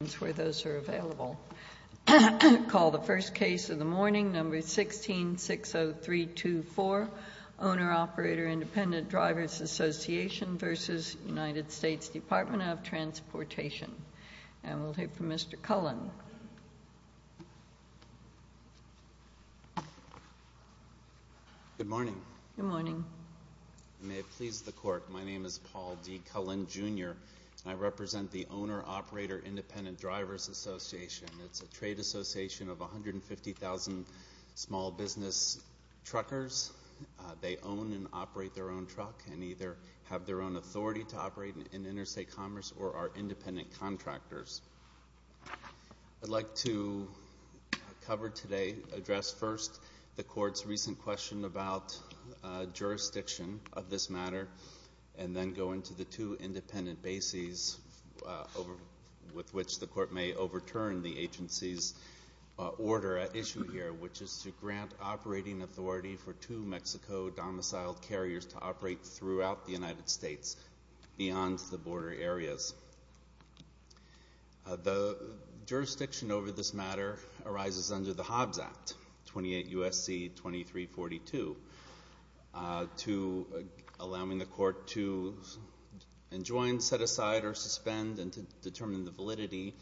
Transportation. And we'll hear from Mr. Cullen. Good morning. Good morning. May it please the court, my name is Paul D. Cullen, Jr. and I represent the Owner-Operator Independent Drivers Association. It's a trade association of 150,000 small business truckers. They own and operate their own truck and either have their own authority to operate in interstate commerce or are independent contractors. I'd like to cover today, address first the court's recent question about jurisdiction of this matter and then go into the two independent bases with which the court may overturn the agency's order at issue here, which is to grant operating authority for two Mexico domiciled carriers to operate throughout the United States beyond the border areas. The jurisdiction over this matter arises under the Hobbs Act, 28 U.S.C. 2342, to allowing the court to enjoin, set aside, or suspend and to determine the validity,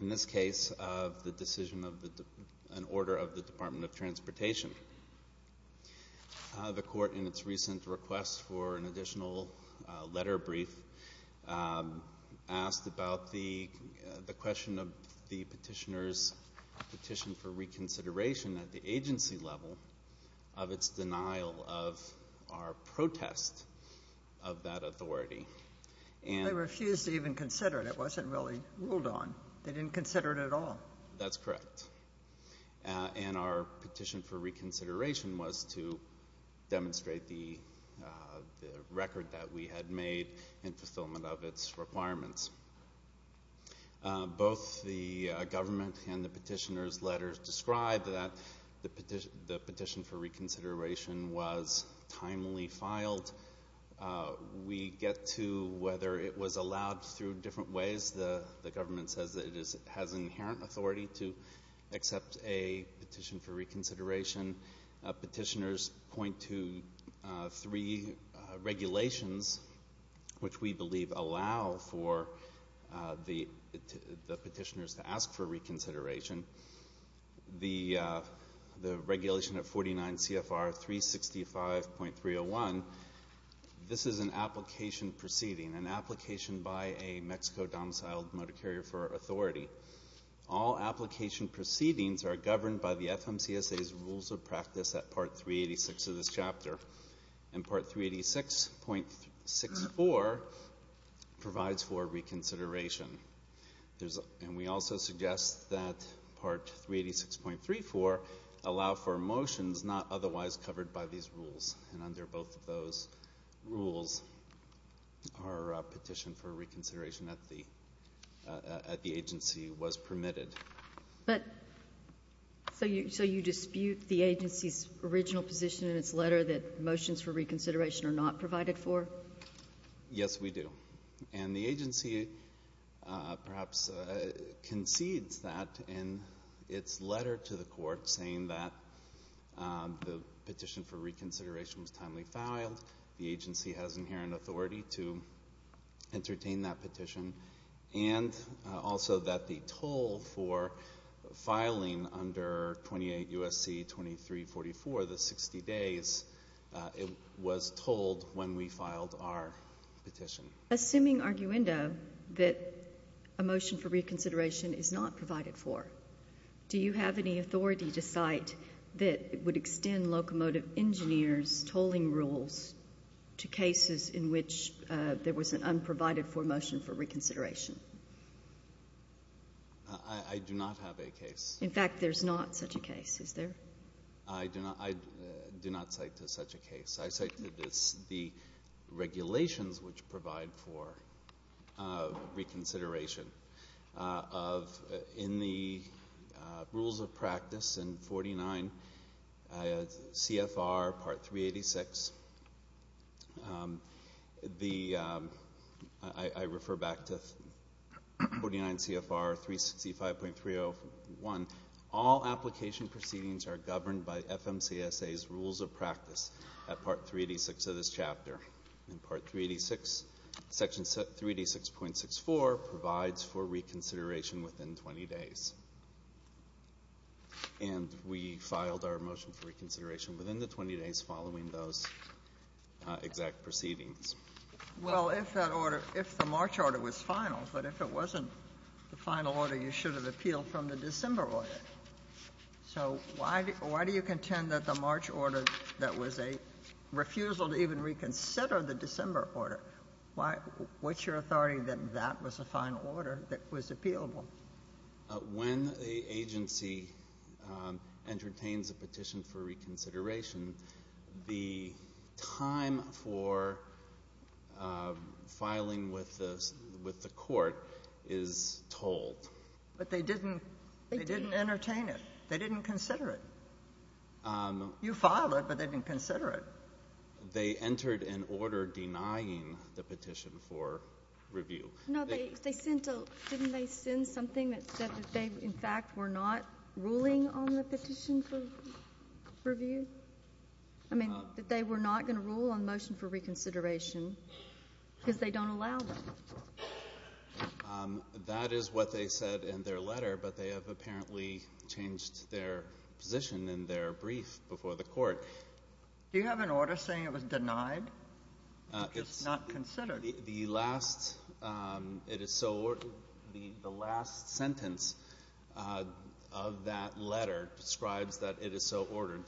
in this case, of the decision of an order of the Department of Transportation. The court, in its recent request for an additional letter brief, asked about the question of the petitioner's petition for reconsideration at the agency level of its denial of our protest of that authority. They refused to even consider it. It wasn't really ruled on. They didn't consider it at all. That's correct. And our petition for reconsideration was to demonstrate the record that we had made in fulfillment of its requirements. Both the government and the petitioner's letters described that the petition for reconsideration was timely filed. We get to whether it was allowed through different ways. The government says that it has inherent authority to accept a petition for reconsideration. Petitioners point to three regulations which we believe allow for the petitioners to ask for reconsideration. The regulation of 49 CFR 365.301, this is an application proceeding, an application by a Mexico domiciled motor carrier for authority. All application proceedings are governed by the FMCSA's rules of practice at Part 386 of this chapter. And Part 386.64 provides for reconsideration. And we also suggest that Part 386.34 allow for motions not otherwise covered by these rules. And was permitted. But so you dispute the agency's original position in its letter that motions for reconsideration are not provided for? Yes, we do. And the agency perhaps concedes that in its letter to the court saying that the petition for reconsideration was timely filed, the agency has inherent authority to entertain that petition, and also that the toll for filing under 28 U.S.C. 2344, the 60 days, it was told when we filed our petition. Assuming arguendo that a motion for reconsideration is not provided for, do you cite rules to cases in which there was an unprovided for motion for reconsideration? I do not have a case. In fact, there's not such a case, is there? I do not cite to such a case. I cite to this the regulations which provide for reconsideration of in the rules of practice in 49 CFR Part 386. I refer back to 49 CFR 365.301. All application proceedings are governed by FMCSA's rules of practice at Part 386 of this chapter. And Part 386, Section 3D6.64, provides for reconsideration within 20 days. And we filed our motion for reconsideration within the 20 days following those exact proceedings. Well, if that order — if the March order was final, but if it wasn't the final order, you should have appealed from the December order. So why do you contend that the March order that was a refusal to even reconsider the December order? Why — what's your authority that that was a final order that was appealable? When the agency entertains a petition for reconsideration, the time for filing with the — with the court is told. But they didn't — they didn't entertain it. They didn't consider it. You filed it, but they didn't consider it. They entered an order denying the petition for review. No, they — they sent a — didn't they send something that said that they, in fact, were not ruling on the petition for review? I mean, that they were not going to rule on the motion for reconsideration because they don't allow them. That is what they said in their letter, but they have apparently changed their position in their brief before the Court. Do you have an order saying it was denied? It's not considered. The last — it is so — the last sentence of that letter describes that it is so ordered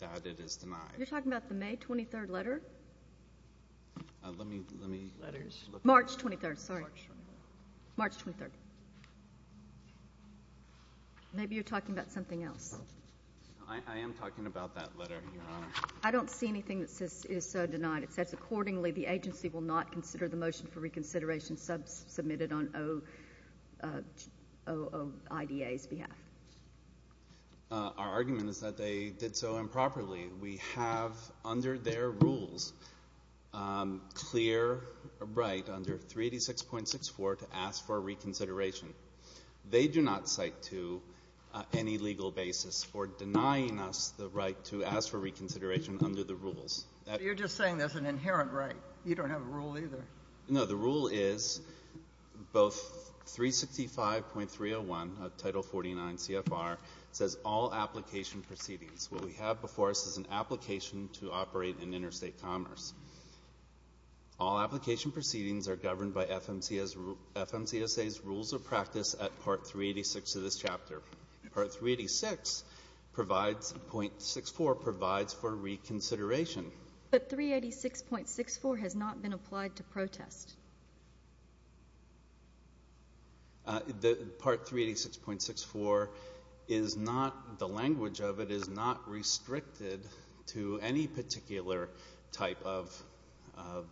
that it is denied. You're talking about the May 23rd letter? Let me — let me — March 23rd, sorry. March 23rd. Maybe you're talking about something else. I am talking about that letter, Your Honor. I don't see anything that says it is so denied. It says, accordingly, the agency will not consider the motion for reconsideration sub — submitted on O — OIDA's behalf. Our argument is that they did so improperly. We have, under their rules, clear right under 386.64 to ask for reconsideration. They do not cite to any legal basis for denying us the right to ask for reconsideration under the rules. You're just saying there's an inherent right. You don't have a rule either. No. The rule is both 365.301 of Title 49 CFR says all application proceedings. What we have before us is an application to operate in interstate commerce. All application proceedings are governed by FMCSA's rules of practice at Part 386 of this chapter. Part 386 provides — .64 provides for reconsideration. But 386.64 has not been applied to protest. The — Part 386.64 is not — the language of it is not restricted to any particular type of — of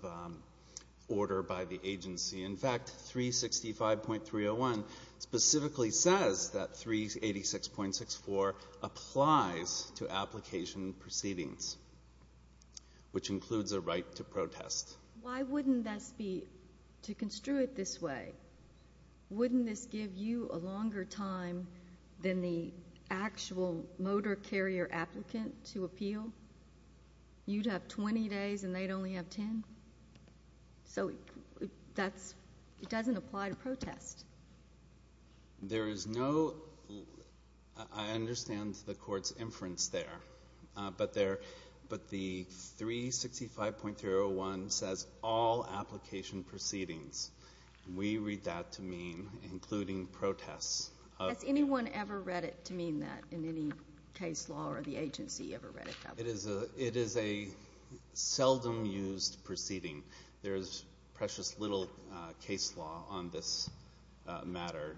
order by the agency. In fact, 365.301 specifically says that 386.64 applies to application proceedings, which includes a right to protest. Why wouldn't this be — to construe it this way, wouldn't this give you a longer time than the actual motor carrier applicant to appeal? You'd have 20 days and they'd only have 10? So that's — it doesn't apply to protest. There is no — I understand the Court's inference there. But there — but the 365.301 says all application proceedings. We read that to mean including protests. Has anyone ever read it to mean that in any case law or the agency ever read it that way? It is a — it is a seldom used proceeding. There is precious little case law on this matter.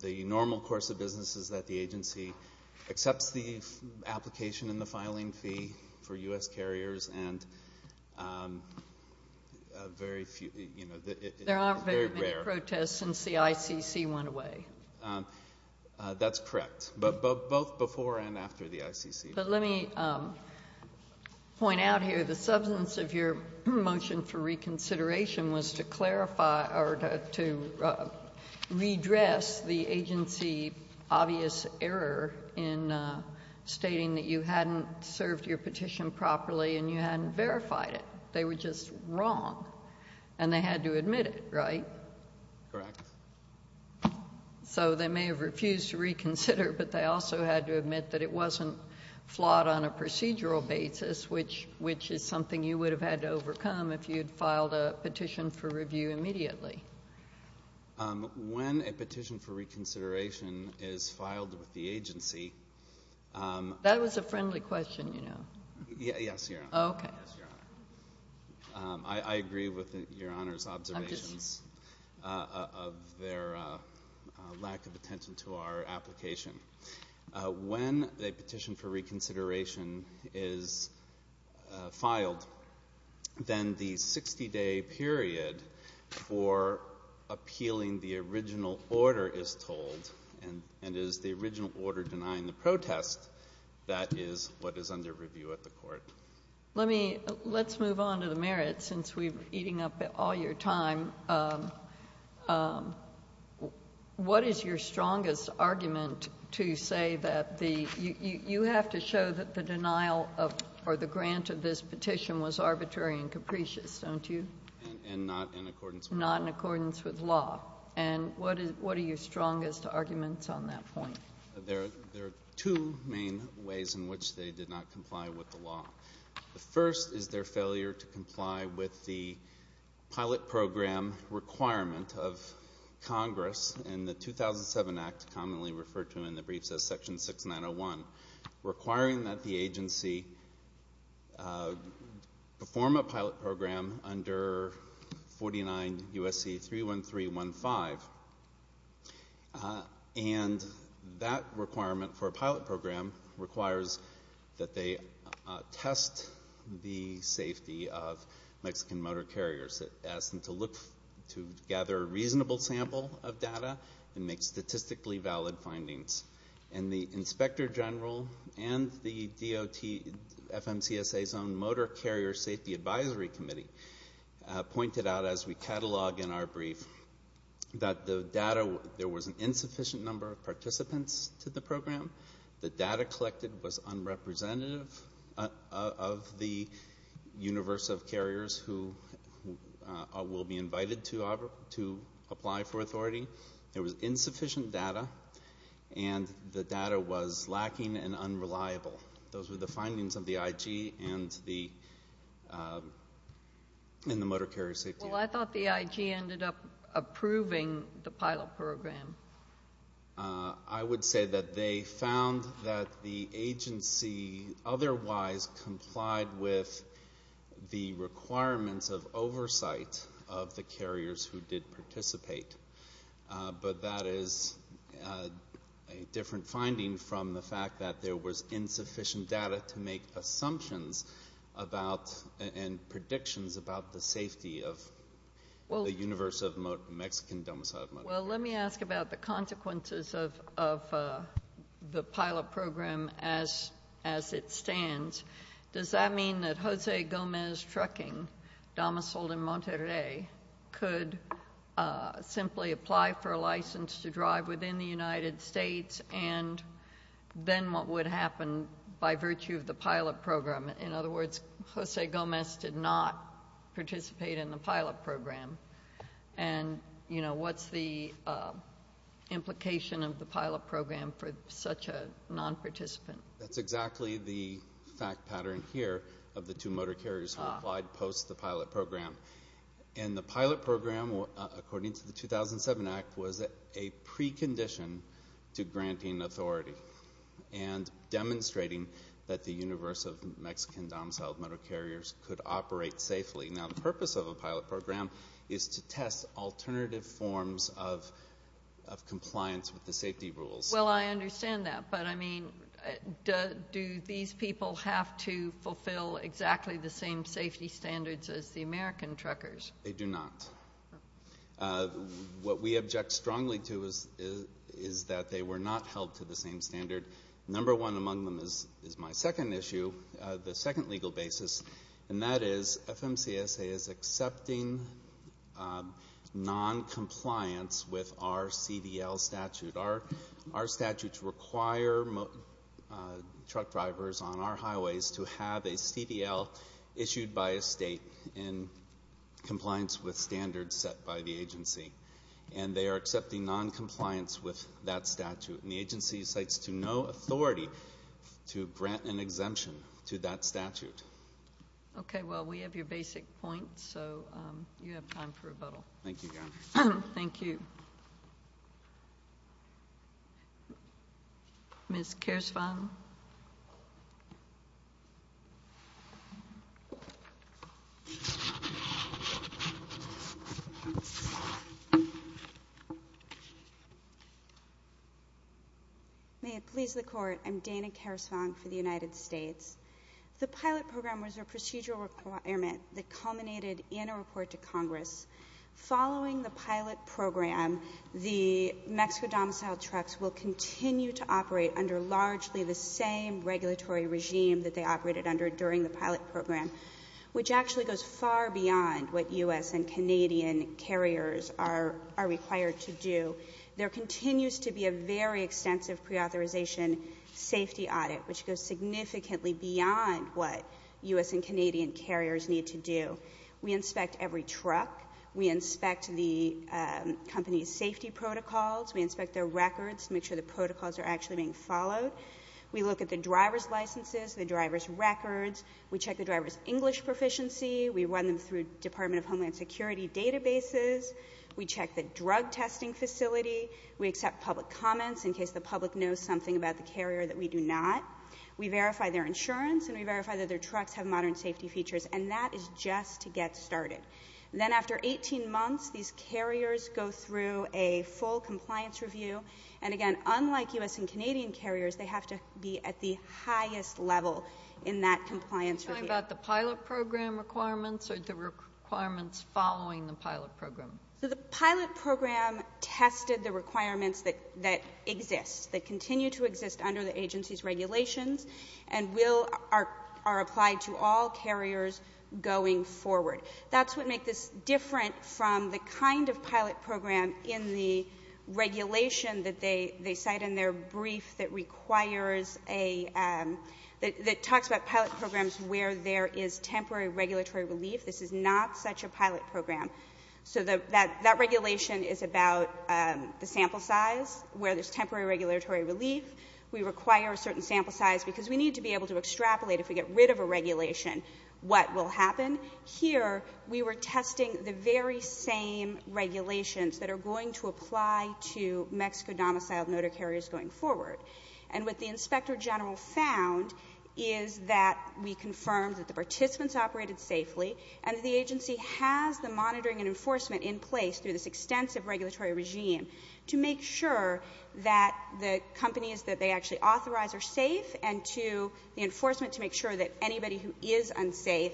The normal course of business is that the agency accepts the application and the filing fee for U.S. carriers, and very few — you know, it's very rare. There aren't very many protests since the ICC went away. That's correct. But both before and after the ICC. But let me point out here, the substance of your motion for reconsideration was to clarify or to redress the agency's obvious error in stating that you hadn't served your petition properly and you hadn't verified it. They were just wrong, and they had to admit it, right? Correct. So they may have refused to reconsider, but they also had to admit that it wasn't flawed on a procedural basis, which — which is something you would have had to overcome if you had filed a petition for review immediately. When a petition for reconsideration is filed with the agency — That was a friendly question, you know. Yes, Your Honor. Okay. I agree with Your Honor's observations of their lack of attention to our application. When a petition for reconsideration is filed, then the 60-day period for appealing the original order is told, and it is the original order denying the protest that is Let me — let's move on to the merits, since we're eating up all your time. What is your strongest argument to say that the — you have to show that the denial of — or the grant of this petition was arbitrary and capricious, don't you? And not in accordance with law. Not in accordance with law. And what are your strongest arguments on that point? There are two main ways in which they did not comply with the law. The first is their failure to comply with the pilot program requirement of Congress and the 2007 Act, commonly referred to in the briefs as Section 6901, requiring that the agency perform a pilot program under 49 U.S.C. 31315. And that requirement for a pilot program requires that they test the safety of Mexican motor carriers. It asks them to look — to gather a reasonable sample of data and make statistically valid findings. And the inspector general and the DOT FMCSA's own Motor Carrier Safety Advisory Committee pointed out, as we catalog in our brief, that the data — there was an insufficient number of participants to the program. The data collected was unrepresentative of the universe of carriers who will be invited to apply for authority. There was insufficient data, and the data was lacking and unreliable. Those were the findings of the IG and the Motor Carrier Safety Advisory Committee. Well, I thought the IG ended up approving the pilot program. I would say that they found that the agency otherwise complied with the requirements of oversight of the carriers who did participate. But that is a different finding from the fact that there was insufficient data to make assumptions about and predictions about the safety of the universe of Mexican-domiciled motor carriers. Well, let me ask about the consequences of the pilot program as it stands. Does that mean that Jose Gomez Trucking, domiciled in Monterrey, could simply apply for a license to drive within the United States and then what would happen by virtue of the pilot program? In other words, Jose Gomez did not participate in the pilot program. And, you know, what's the implication of the pilot program for such a nonparticipant? That's exactly the fact pattern here of the two motor carriers who applied post the pilot program. And the pilot program, according to the 2007 Act, was a precondition to granting authority and demonstrating that the universe of Mexican-domiciled motor carriers could operate safely. Now, the purpose of a pilot program is to test alternative forms of compliance with the safety rules. Well, I understand that. But, I mean, do these people have to fulfill exactly the same safety standards as the American truckers? They do not. What we object strongly to is that they were not held to the same standard. Number one among them is my second issue, the second legal basis, and that is FMCSA is accepting noncompliance with our CDL statute. Our statutes require truck drivers on our highways to have a CDL issued by a state in compliance with standards set by the agency. And they are accepting noncompliance with that statute. And the agency cites to no authority to grant an exemption to that statute. Okay. Well, we have your basic points, so you have time for rebuttal. Thank you, Governor. Thank you. Ms. Keersvang. May it please the Court, I'm Dana Keersvang for the United States. The pilot program was a procedural requirement that culminated in a report to Congress. Following the pilot program, the Mexico domiciled trucks will continue to operate under largely the same regulatory regime that they operated under during the pilot program, which actually goes far beyond what U.S. and Canadian carriers are required to do. There continues to be a very extensive preauthorization safety audit, which goes significantly beyond what U.S. and Canadian carriers need to do. We inspect every truck. We inspect the company's safety protocols. We inspect their records to make sure the protocols are actually being followed. We look at the driver's licenses, the driver's records. We check the driver's English proficiency. We run them through Department of Homeland Security databases. We check the drug testing facility. We accept public comments in case the public knows something about the carrier that we do not. We verify their insurance, and we verify that their trucks have modern safety features. And that is just to get started. Then after 18 months, these carriers go through a full compliance review. And, again, unlike U.S. and Canadian carriers, they have to be at the highest level in that compliance review. Are you talking about the pilot program requirements or the requirements following the pilot program? The pilot program tested the requirements that exist, that continue to exist under the agency's regulations and are applied to all carriers going forward. That's what makes this different from the kind of pilot program in the regulation that they cite in their brief that requires a ‑‑ that talks about pilot programs where there is temporary regulatory relief. This is not such a pilot program. So that regulation is about the sample size, where there's temporary regulatory relief. We require a certain sample size because we need to be able to extrapolate, if we get rid of a regulation, what will happen. Here we were testing the very same regulations that are going to apply to Mexico-domiciled motor carriers going forward. And what the inspector general found is that we confirmed that the participants operated safely and that the agency has the monitoring and enforcement in place through this extensive regulatory regime to make sure that the companies that they actually authorize are safe and to the enforcement to make sure that anybody who is unsafe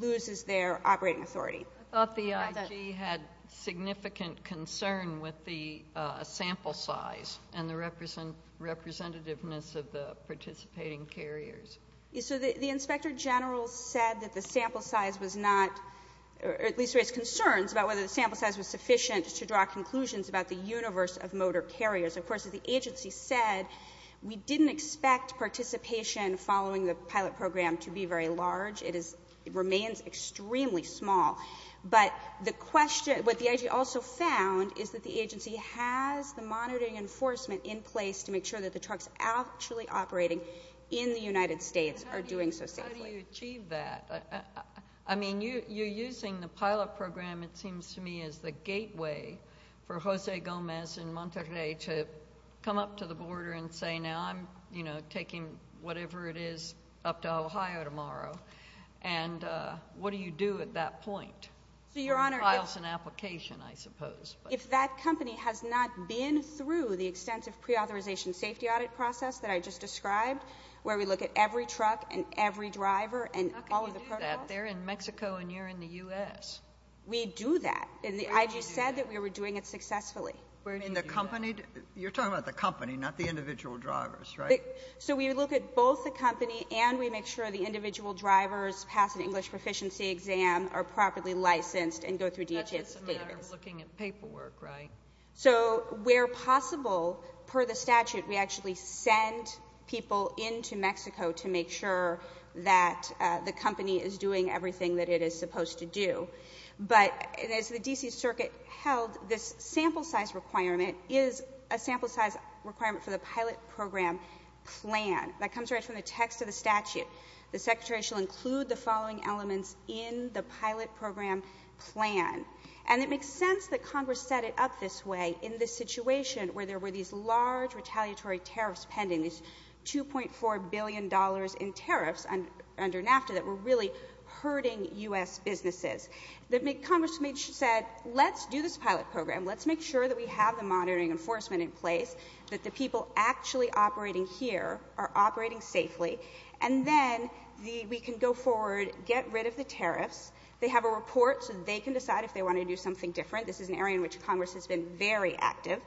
loses their operating authority. I thought the IG had significant concern with the sample size and the representativeness of the participating carriers. So the inspector general said that the sample size was not ‑‑ or at least raised concerns about whether the sample size was sufficient to draw conclusions about the universe of motor carriers. Of course, as the agency said, we didn't expect participation following the pilot program to be very large. It remains extremely small. But what the IG also found is that the agency has the monitoring and enforcement in place to make sure that the trucks actually operating in the United States are doing so safely. How do you achieve that? I mean, you're using the pilot program, it seems to me, as the gateway for Jose Gomez in Monterrey to come up to the border and say now I'm taking whatever it is up to Ohio tomorrow. And what do you do at that point? Files an application, I suppose. If that company has not been through the extensive preauthorization safety audit process that I just described where we look at every truck and every driver and all of the protocols. How can you do that? They're in Mexico and you're in the U.S. We do that. And the IG said that we were doing it successfully. Where do you do that? You're talking about the company, not the individual drivers, right? So we look at both the company and we make sure the individual drivers pass an English proficiency exam are properly licensed and go through DHS database. That's just a matter of looking at paperwork, right? So where possible, per the statute, we actually send people into Mexico to make sure that the company is doing everything that it is supposed to do. But as the D.C. Circuit held, this sample size requirement is a sample size requirement for the pilot program plan. That comes right from the text of the statute. The Secretary shall include the following elements in the pilot program plan. And it makes sense that Congress set it up this way in this situation where there were these large retaliatory tariffs pending, these $2.4 billion in tariffs under NAFTA that were really hurting U.S. businesses. Congress said, let's do this pilot program. Let's make sure that we have the monitoring enforcement in place, that the people actually operating here are operating safely, and then we can go forward, get rid of the tariffs. They have a report so they can decide if they want to do something different. This is an area in which Congress has been very active.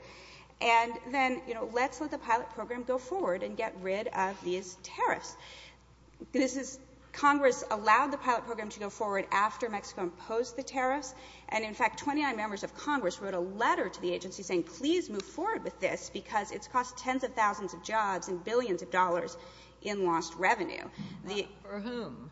And then, you know, let's let the pilot program go forward and get rid of these tariffs. Congress allowed the pilot program to go forward after Mexico imposed the tariffs. And, in fact, 29 members of Congress wrote a letter to the agency saying, please move forward with this because it's cost tens of thousands of jobs and billions of dollars in lost revenue. For whom?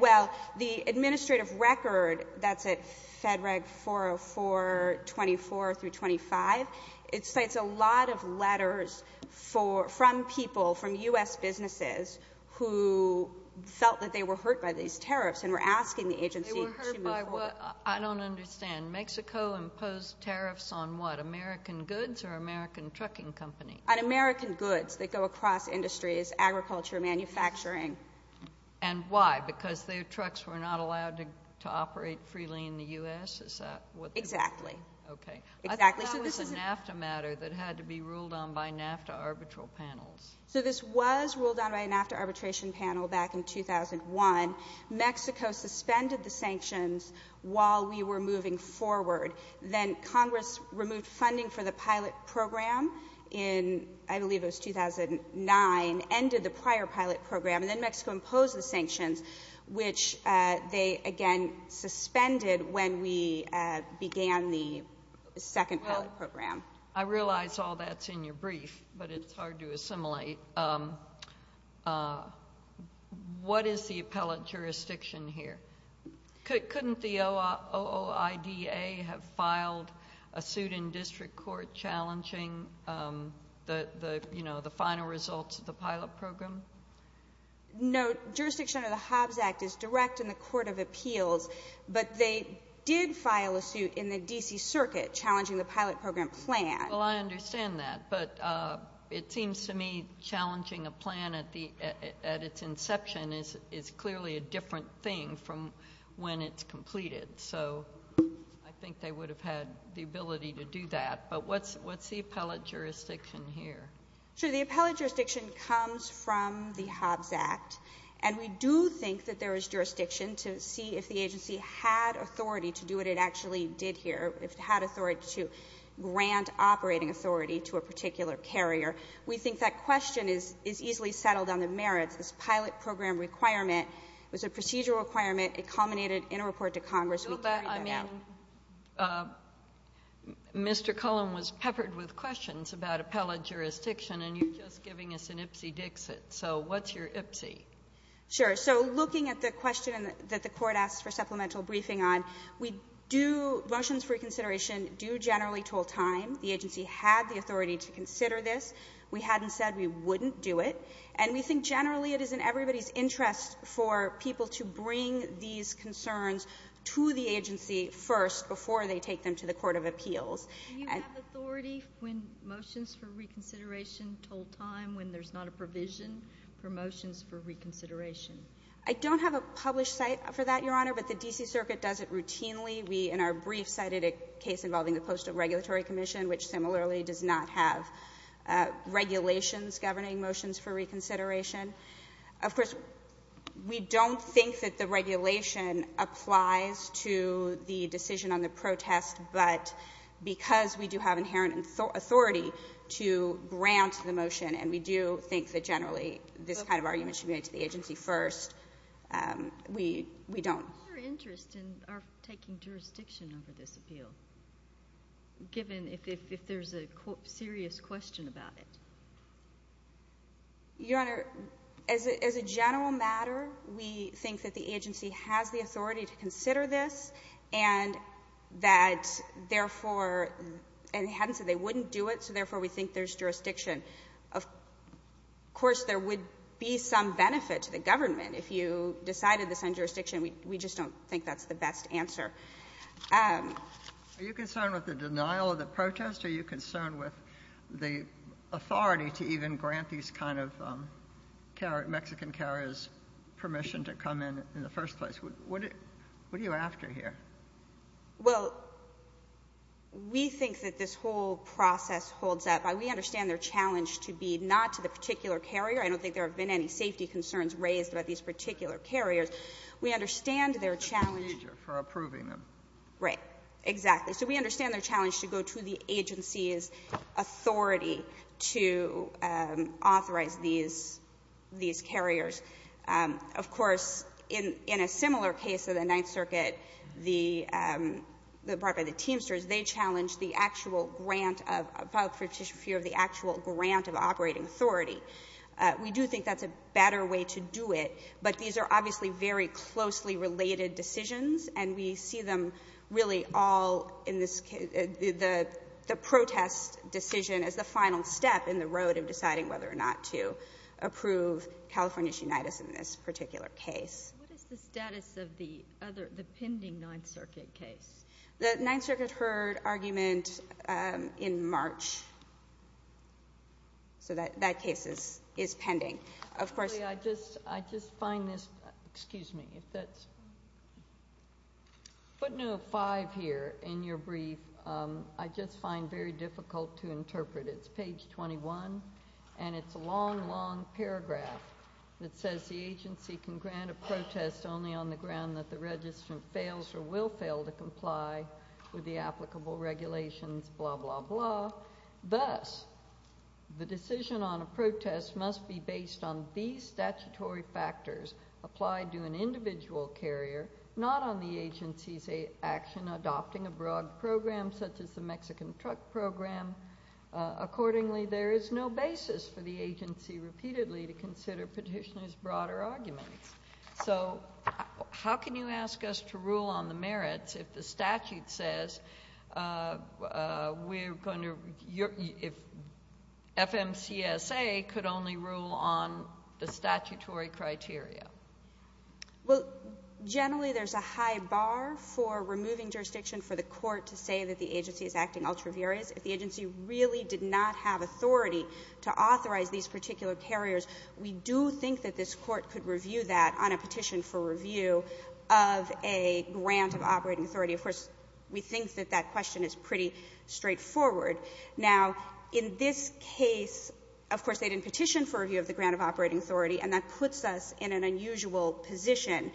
Well, the administrative record that's at Fed Reg 404, 24 through 25, it cites a lot of letters from people, from U.S. businesses, who felt that they were hurt by these tariffs and were asking the agency to move forward. They were hurt by what? I don't understand. Mexico imposed tariffs on what, American goods or American trucking companies? On American goods that go across industries, agriculture, manufacturing. And why? Because their trucks were not allowed to operate freely in the U.S.? Exactly. I thought that was a NAFTA matter that had to be ruled on by NAFTA arbitral panels. So this was ruled on by a NAFTA arbitration panel back in 2001. Mexico suspended the sanctions while we were moving forward. Then Congress removed funding for the pilot program in, I believe it was 2009, ended the prior pilot program, and then Mexico imposed the sanctions, which they again suspended when we began the second pilot program. Well, I realize all that's in your brief, but it's hard to assimilate. What is the appellate jurisdiction here? Couldn't the OOIDA have filed a suit in district court challenging the final results of the pilot program? No. Jurisdiction under the Hobbs Act is direct in the Court of Appeals, but they did file a suit in the D.C. Circuit challenging the pilot program plan. Well, I understand that, but it seems to me challenging a plan at its inception is clearly a different thing from when it's completed. So I think they would have had the ability to do that. But what's the appellate jurisdiction here? Sure. The appellate jurisdiction comes from the Hobbs Act, and we do think that there is jurisdiction to see if the agency had authority to do what it actually did here, if it had authority to grant operating authority to a particular carrier. We think that question is easily settled on the merits. This pilot program requirement was a procedural requirement. It culminated in a report to Congress. We can read that out. But, I mean, Mr. Cullen was peppered with questions about appellate jurisdiction, and you're just giving us an ipsy-dixit. So what's your ipsy? Sure. So looking at the question that the Court asked for supplemental briefing on, we do, motions for reconsideration do generally toll time. The agency had the authority to consider this. We hadn't said we wouldn't do it. And we think generally it is in everybody's interest for people to bring these concerns to the agency first before they take them to the court of appeals. Do you have authority when motions for reconsideration toll time when there's not a provision for motions for reconsideration? I don't have a published site for that, Your Honor. But the D.C. Circuit does it routinely. We, in our brief, cited a case involving the Postal Regulatory Commission, which similarly does not have regulations governing motions for reconsideration. Of course, we don't think that the regulation applies to the decision on the protest, but because we do have inherent authority to grant the motion and we do think that that kind of argument should be made to the agency first, we don't. What is your interest in our taking jurisdiction over this appeal, given if there's a serious question about it? Your Honor, as a general matter, we think that the agency has the authority to consider this and that, therefore, and they hadn't said they wouldn't do it, so, therefore, we think there's jurisdiction. Of course, there would be some benefit to the government if you decided to send jurisdiction. We just don't think that's the best answer. Are you concerned with the denial of the protest? Are you concerned with the authority to even grant these kind of Mexican carriers permission to come in in the first place? What are you after here? Well, we think that this whole process holds up. We understand their challenge to be not to the particular carrier. I don't think there have been any safety concerns raised about these particular carriers. We understand their challenge. For approving them. Right. Exactly. So we understand their challenge to go to the agency's authority to authorize these carriers. Of course, in a similar case of the Ninth Circuit, the part by the Teamsters, they challenged the actual grant of the actual grant of operating authority. We do think that's a better way to do it, but these are obviously very closely related decisions, and we see them really all in this case. The protest decision is the final step in the road of deciding whether or not to approve California's unitis in this particular case. What is the status of the pending Ninth Circuit case? The Ninth Circuit heard argument in March, so that case is pending. I just find this, excuse me. Putting a five here in your brief, I just find very difficult to interpret. It's page 21, and it's a long, long paragraph that says the agency can grant a protest only on the ground that the registrant fails or will fail to comply with the applicable regulations, blah, blah, blah. Thus, the decision on a protest must be based on these statutory factors applied to an individual carrier, not on the agency's action adopting a broad program such as the Mexican truck program. Accordingly, there is no basis for the agency repeatedly to consider petitioners' broader arguments. So how can you ask us to rule on the merits if the statute says we're going to, if FMCSA could only rule on the statutory criteria? Well, generally, there's a high bar for removing jurisdiction for the court to say that the agency is acting ultra vires. If the agency really did not have authority to authorize these particular carriers, we do think that this Court could review that on a petition for review of a grant of operating authority. Of course, we think that that question is pretty straightforward. Now, in this case, of course, they didn't petition for review of the grant of operating authority, and that puts us in an unusual position.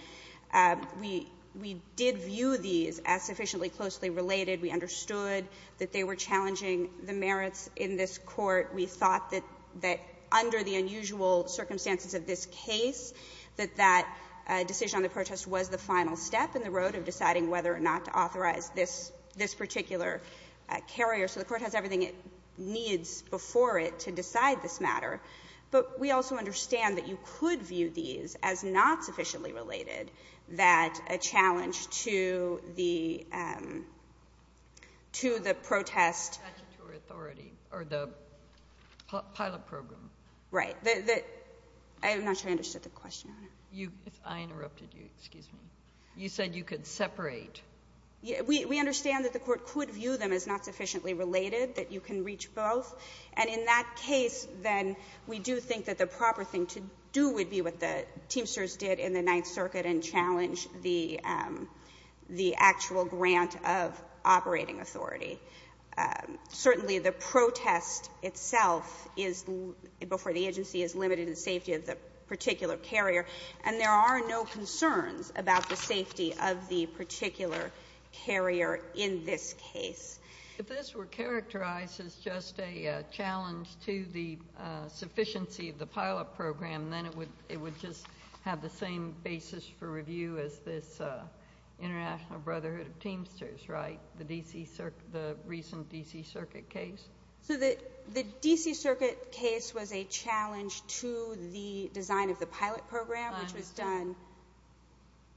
We did view these as sufficiently closely related. We understood that they were challenging the merits in this Court. We thought that under the unusual circumstances of this case, that that decision on the protest was the final step in the road of deciding whether or not to authorize this particular carrier. So the Court has everything it needs before it to decide this matter. But we also understand that you could view these as not sufficiently related, that a challenge to the protest or the pilot program. Right. I'm not sure I understood the question. I interrupted you. Excuse me. You said you could separate. We understand that the Court could view them as not sufficiently related, that you can reach both. And in that case, then, we do think that the proper thing to do would be what the Teamsters did in the Ninth Circuit and challenge the actual grant of operating authority. Certainly, the protest itself is, before the agency, is limited in safety of the particular carrier, and there are no concerns about the safety of the particular carrier in this case. If this were characterized as just a challenge to the sufficiency of the pilot program, then it would just have the same basis for review as this International Brotherhood of Teamsters, right, the recent D.C. Circuit case? So the D.C. Circuit case was a challenge to the design of the pilot program, which was done.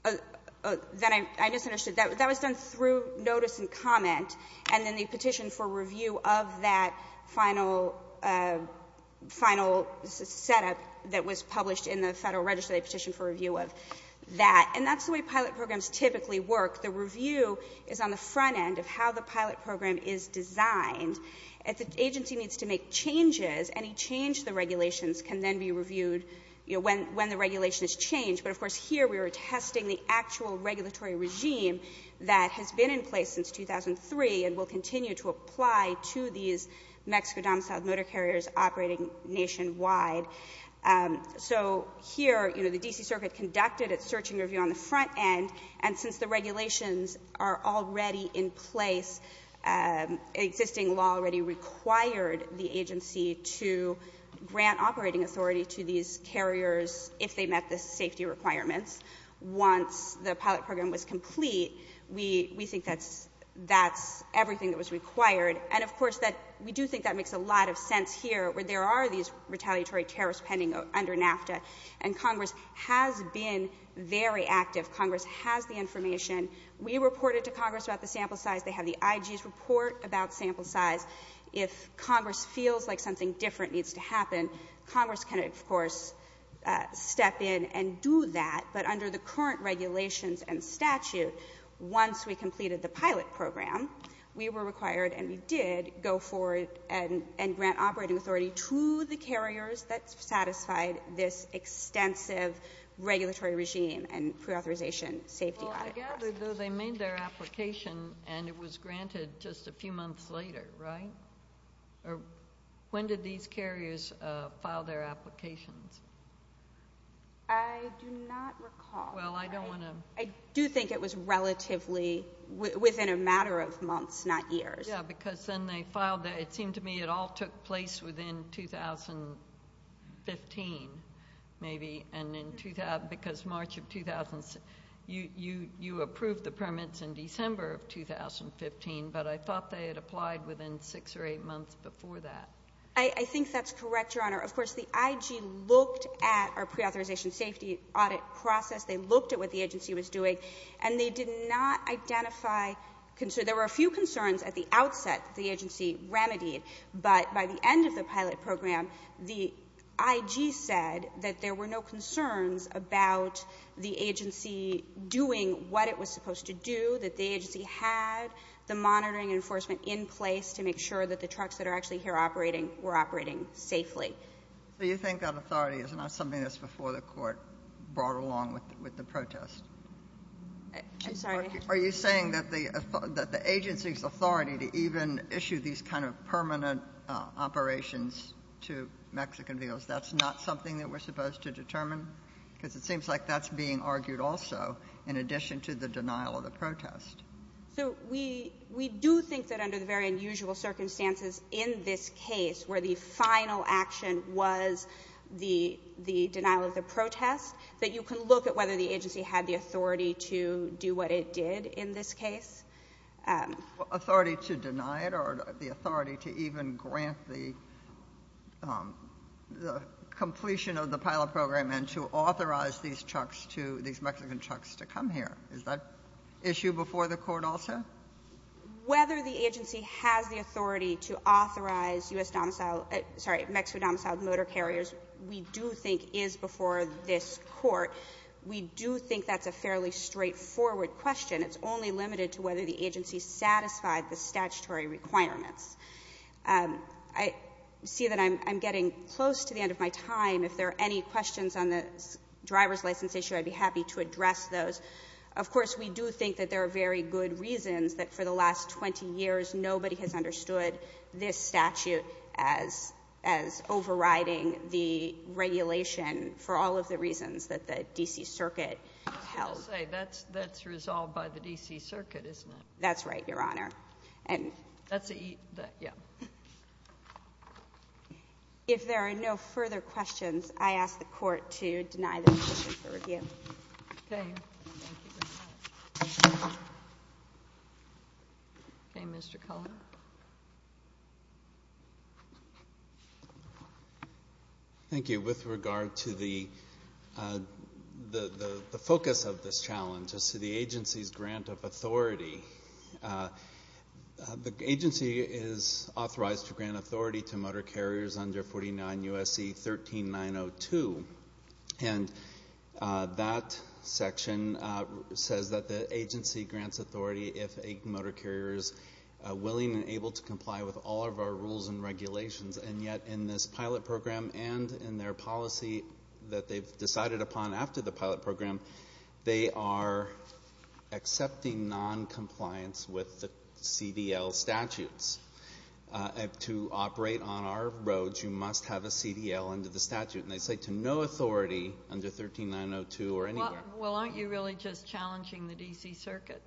I understand. I just understood. That was done through notice and comment, and then the petition for review of that final setup that was published in the Federal Register, they petitioned for review of that. And that's the way pilot programs typically work. The review is on the front end of how the pilot program is designed. If the agency needs to make changes, any change to the regulations can then be reviewed when the regulation is changed. But, of course, here we were testing the actual regulatory regime that has been in place since 2003 and will continue to apply to these Mexico domiciled motor carriers operating nationwide. So here, you know, the D.C. Circuit conducted its search and review on the front end, and since the regulations are already in place, existing law already required the agency to grant operating authority to these carriers if they met the safety requirements. Once the pilot program was complete, we think that's everything that was required. And, of course, we do think that makes a lot of sense here, where there are these retaliatory tariffs pending under NAFTA, and Congress has been very active. Congress has the information. We reported to Congress about the sample size. They have the IG's report about sample size. step in and do that. But under the current regulations and statute, once we completed the pilot program, we were required, and we did, go forward and grant operating authority to the carriers that satisfied this extensive regulatory regime and pre-authorization safety requirements. Well, I gather, though, they made their application, and it was granted just a few months later, right? When did these carriers file their applications? I do not recall. Well, I don't want to – I do think it was relatively within a matter of months, not years. Yeah, because then they filed – it seemed to me it all took place within 2015, maybe, because March of – you approved the permits in December of 2015, but I think that's correct, Your Honor. Of course, the IG looked at our pre-authorization safety audit process. They looked at what the agency was doing, and they did not identify concerns. There were a few concerns at the outset that the agency remedied, but by the end of the pilot program, the IG said that there were no concerns about the agency doing what it was supposed to do, that the agency had the monitoring and that the trucks that are actually here operating were operating safely. So you think that authority is not something that's before the court brought along with the protest? I'm sorry? Are you saying that the agency's authority to even issue these kind of permanent operations to Mexican vehicles, that's not something that we're supposed to determine? Because it seems like that's being argued also, in addition to the denial of the protest. So we do think that under the very unusual circumstances in this case, where the final action was the denial of the protest, that you can look at whether the agency had the authority to do what it did in this case. Authority to deny it or the authority to even grant the completion of the pilot program and to authorize these trucks to – these Mexican trucks to come here. Is that issue before the court also? Whether the agency has the authority to authorize U.S. domicile – sorry, Mexican domiciled motor carriers, we do think is before this court. We do think that's a fairly straightforward question. It's only limited to whether the agency satisfied the statutory requirements. I see that I'm getting close to the end of my time. If there are any questions on the driver's license issue, I'd be happy to address those. Of course, we do think that there are very good reasons that for the last 20 years nobody has understood this statute as overriding the regulation for all of the reasons that the D.C. Circuit held. I was going to say, that's resolved by the D.C. Circuit, isn't it? That's right, Your Honor. That's the – yeah. If there are no further questions, I ask the Court to deny the motion for review. Okay. Mr. Cullen. Thank you. With regard to the focus of this challenge as to the agency's grant of authority, the agency is authorized to grant authority to motor carriers under 49 U.S.C. 13902. And that section says that the agency grants authority if a motor carrier is willing and able to comply with all of our rules and regulations. And yet in this pilot program and in their policy that they've decided upon after the pilot program, they are accepting noncompliance with the CDL statutes. To operate on our roads, you must have a CDL under the statute. And they say to no authority under 13902 or anywhere. Well, aren't you really just challenging the D.C. Circuit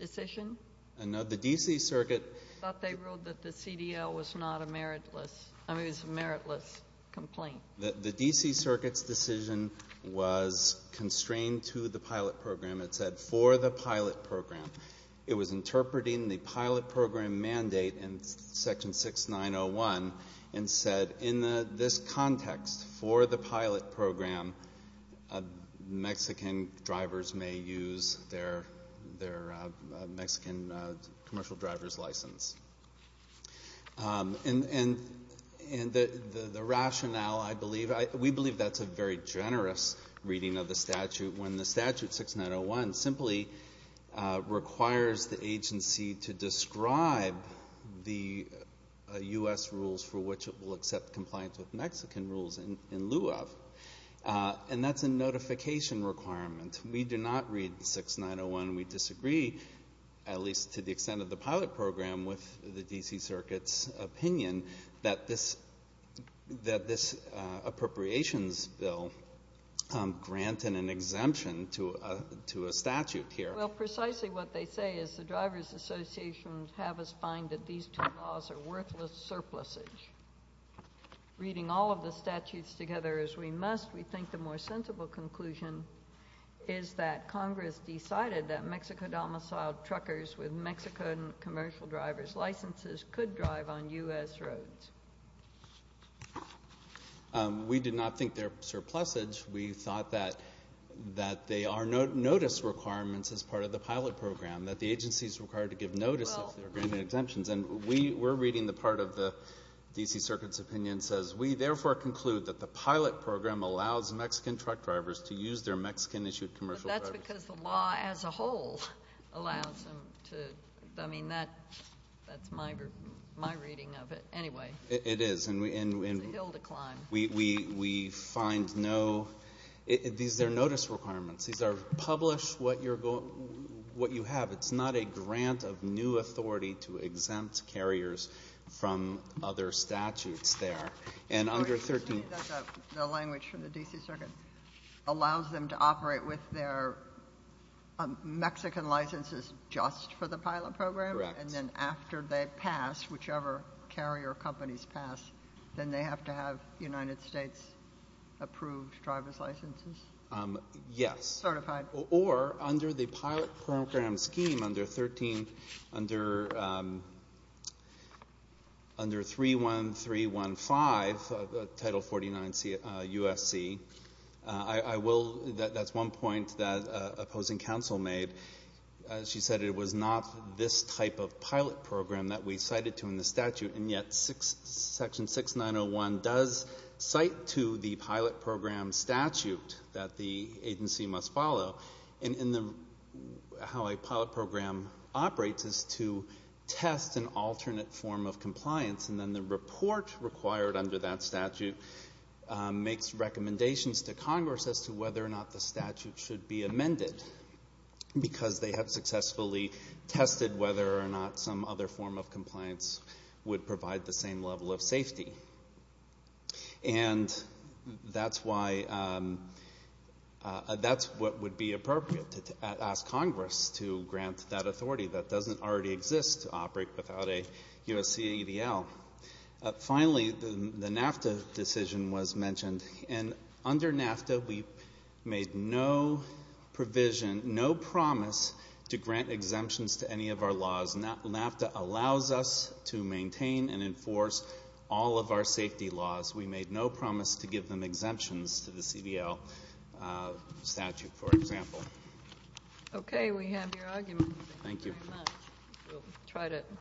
decision? No. The D.C. Circuit – I thought they ruled that the CDL was not a meritless – I mean, it was a meritless complaint. The D.C. Circuit's decision was constrained to the pilot program. It said for the pilot program. It was interpreting the pilot program mandate in Section 6901 and said in this context for the pilot program, Mexican drivers may use their Mexican commercial driver's license. And the rationale, I believe – we believe that's a very generous reading of the statute when the statute 6901 simply requires the agency to describe the U.S. rules for which it will accept compliance with Mexican rules in lieu of. And that's a notification requirement. We do not read 6901. We disagree, at least to the extent of the pilot program, with the D.C. Circuit's opinion that this appropriations bill granted an exemption to a statute here. Well, precisely what they say is the drivers' associations have us find that these two laws are worthless surpluses. Reading all of the statutes together as we must, we think the more sensible conclusion is that Congress decided that Mexico-domiciled truckers with Mexican commercial driver's licenses could drive on U.S. roads. We did not think they're surpluses. We thought that they are notice requirements as part of the pilot program, that the agency is required to give notice if they're granted exemptions. And we're reading the part of the D.C. Circuit's opinion that says, we therefore conclude that the pilot program allows Mexican truck drivers to use their Mexican-issued commercial driver's license. But that's because the law as a whole allows them to. I mean, that's my reading of it. Anyway. It is. It's a hill to climb. We find no — these are notice requirements. These are publish what you have. It's not a grant of new authority to exempt carriers from other statutes there. The language from the D.C. Circuit allows them to operate with their Mexican licenses just for the pilot program? Correct. And then after they pass, whichever carrier companies pass, then they have to have United States-approved driver's licenses? Yes. Certified. Or under the pilot program scheme under 31315, Title 49 USC, I will — that's one point that opposing counsel made. She said it was not this type of pilot program that we cited to in the statute, and yet Section 6901 does cite to the pilot program statute that the agency must follow. And how a pilot program operates is to test an alternate form of compliance, and then the report required under that statute makes recommendations to Congress as to whether or not the statute should be amended, because they have successfully tested whether or not some other form of compliance would provide the same level of safety. And that's why — that's what would be appropriate, to ask Congress to grant that authority that doesn't already exist to operate without a USC ADL. And under NAFTA, we made no provision, no promise to grant exemptions to any of our laws. NAFTA allows us to maintain and enforce all of our safety laws. We made no promise to give them exemptions to the CDL statute, for example. Okay. We have your argument. Thank you. Thank you very much.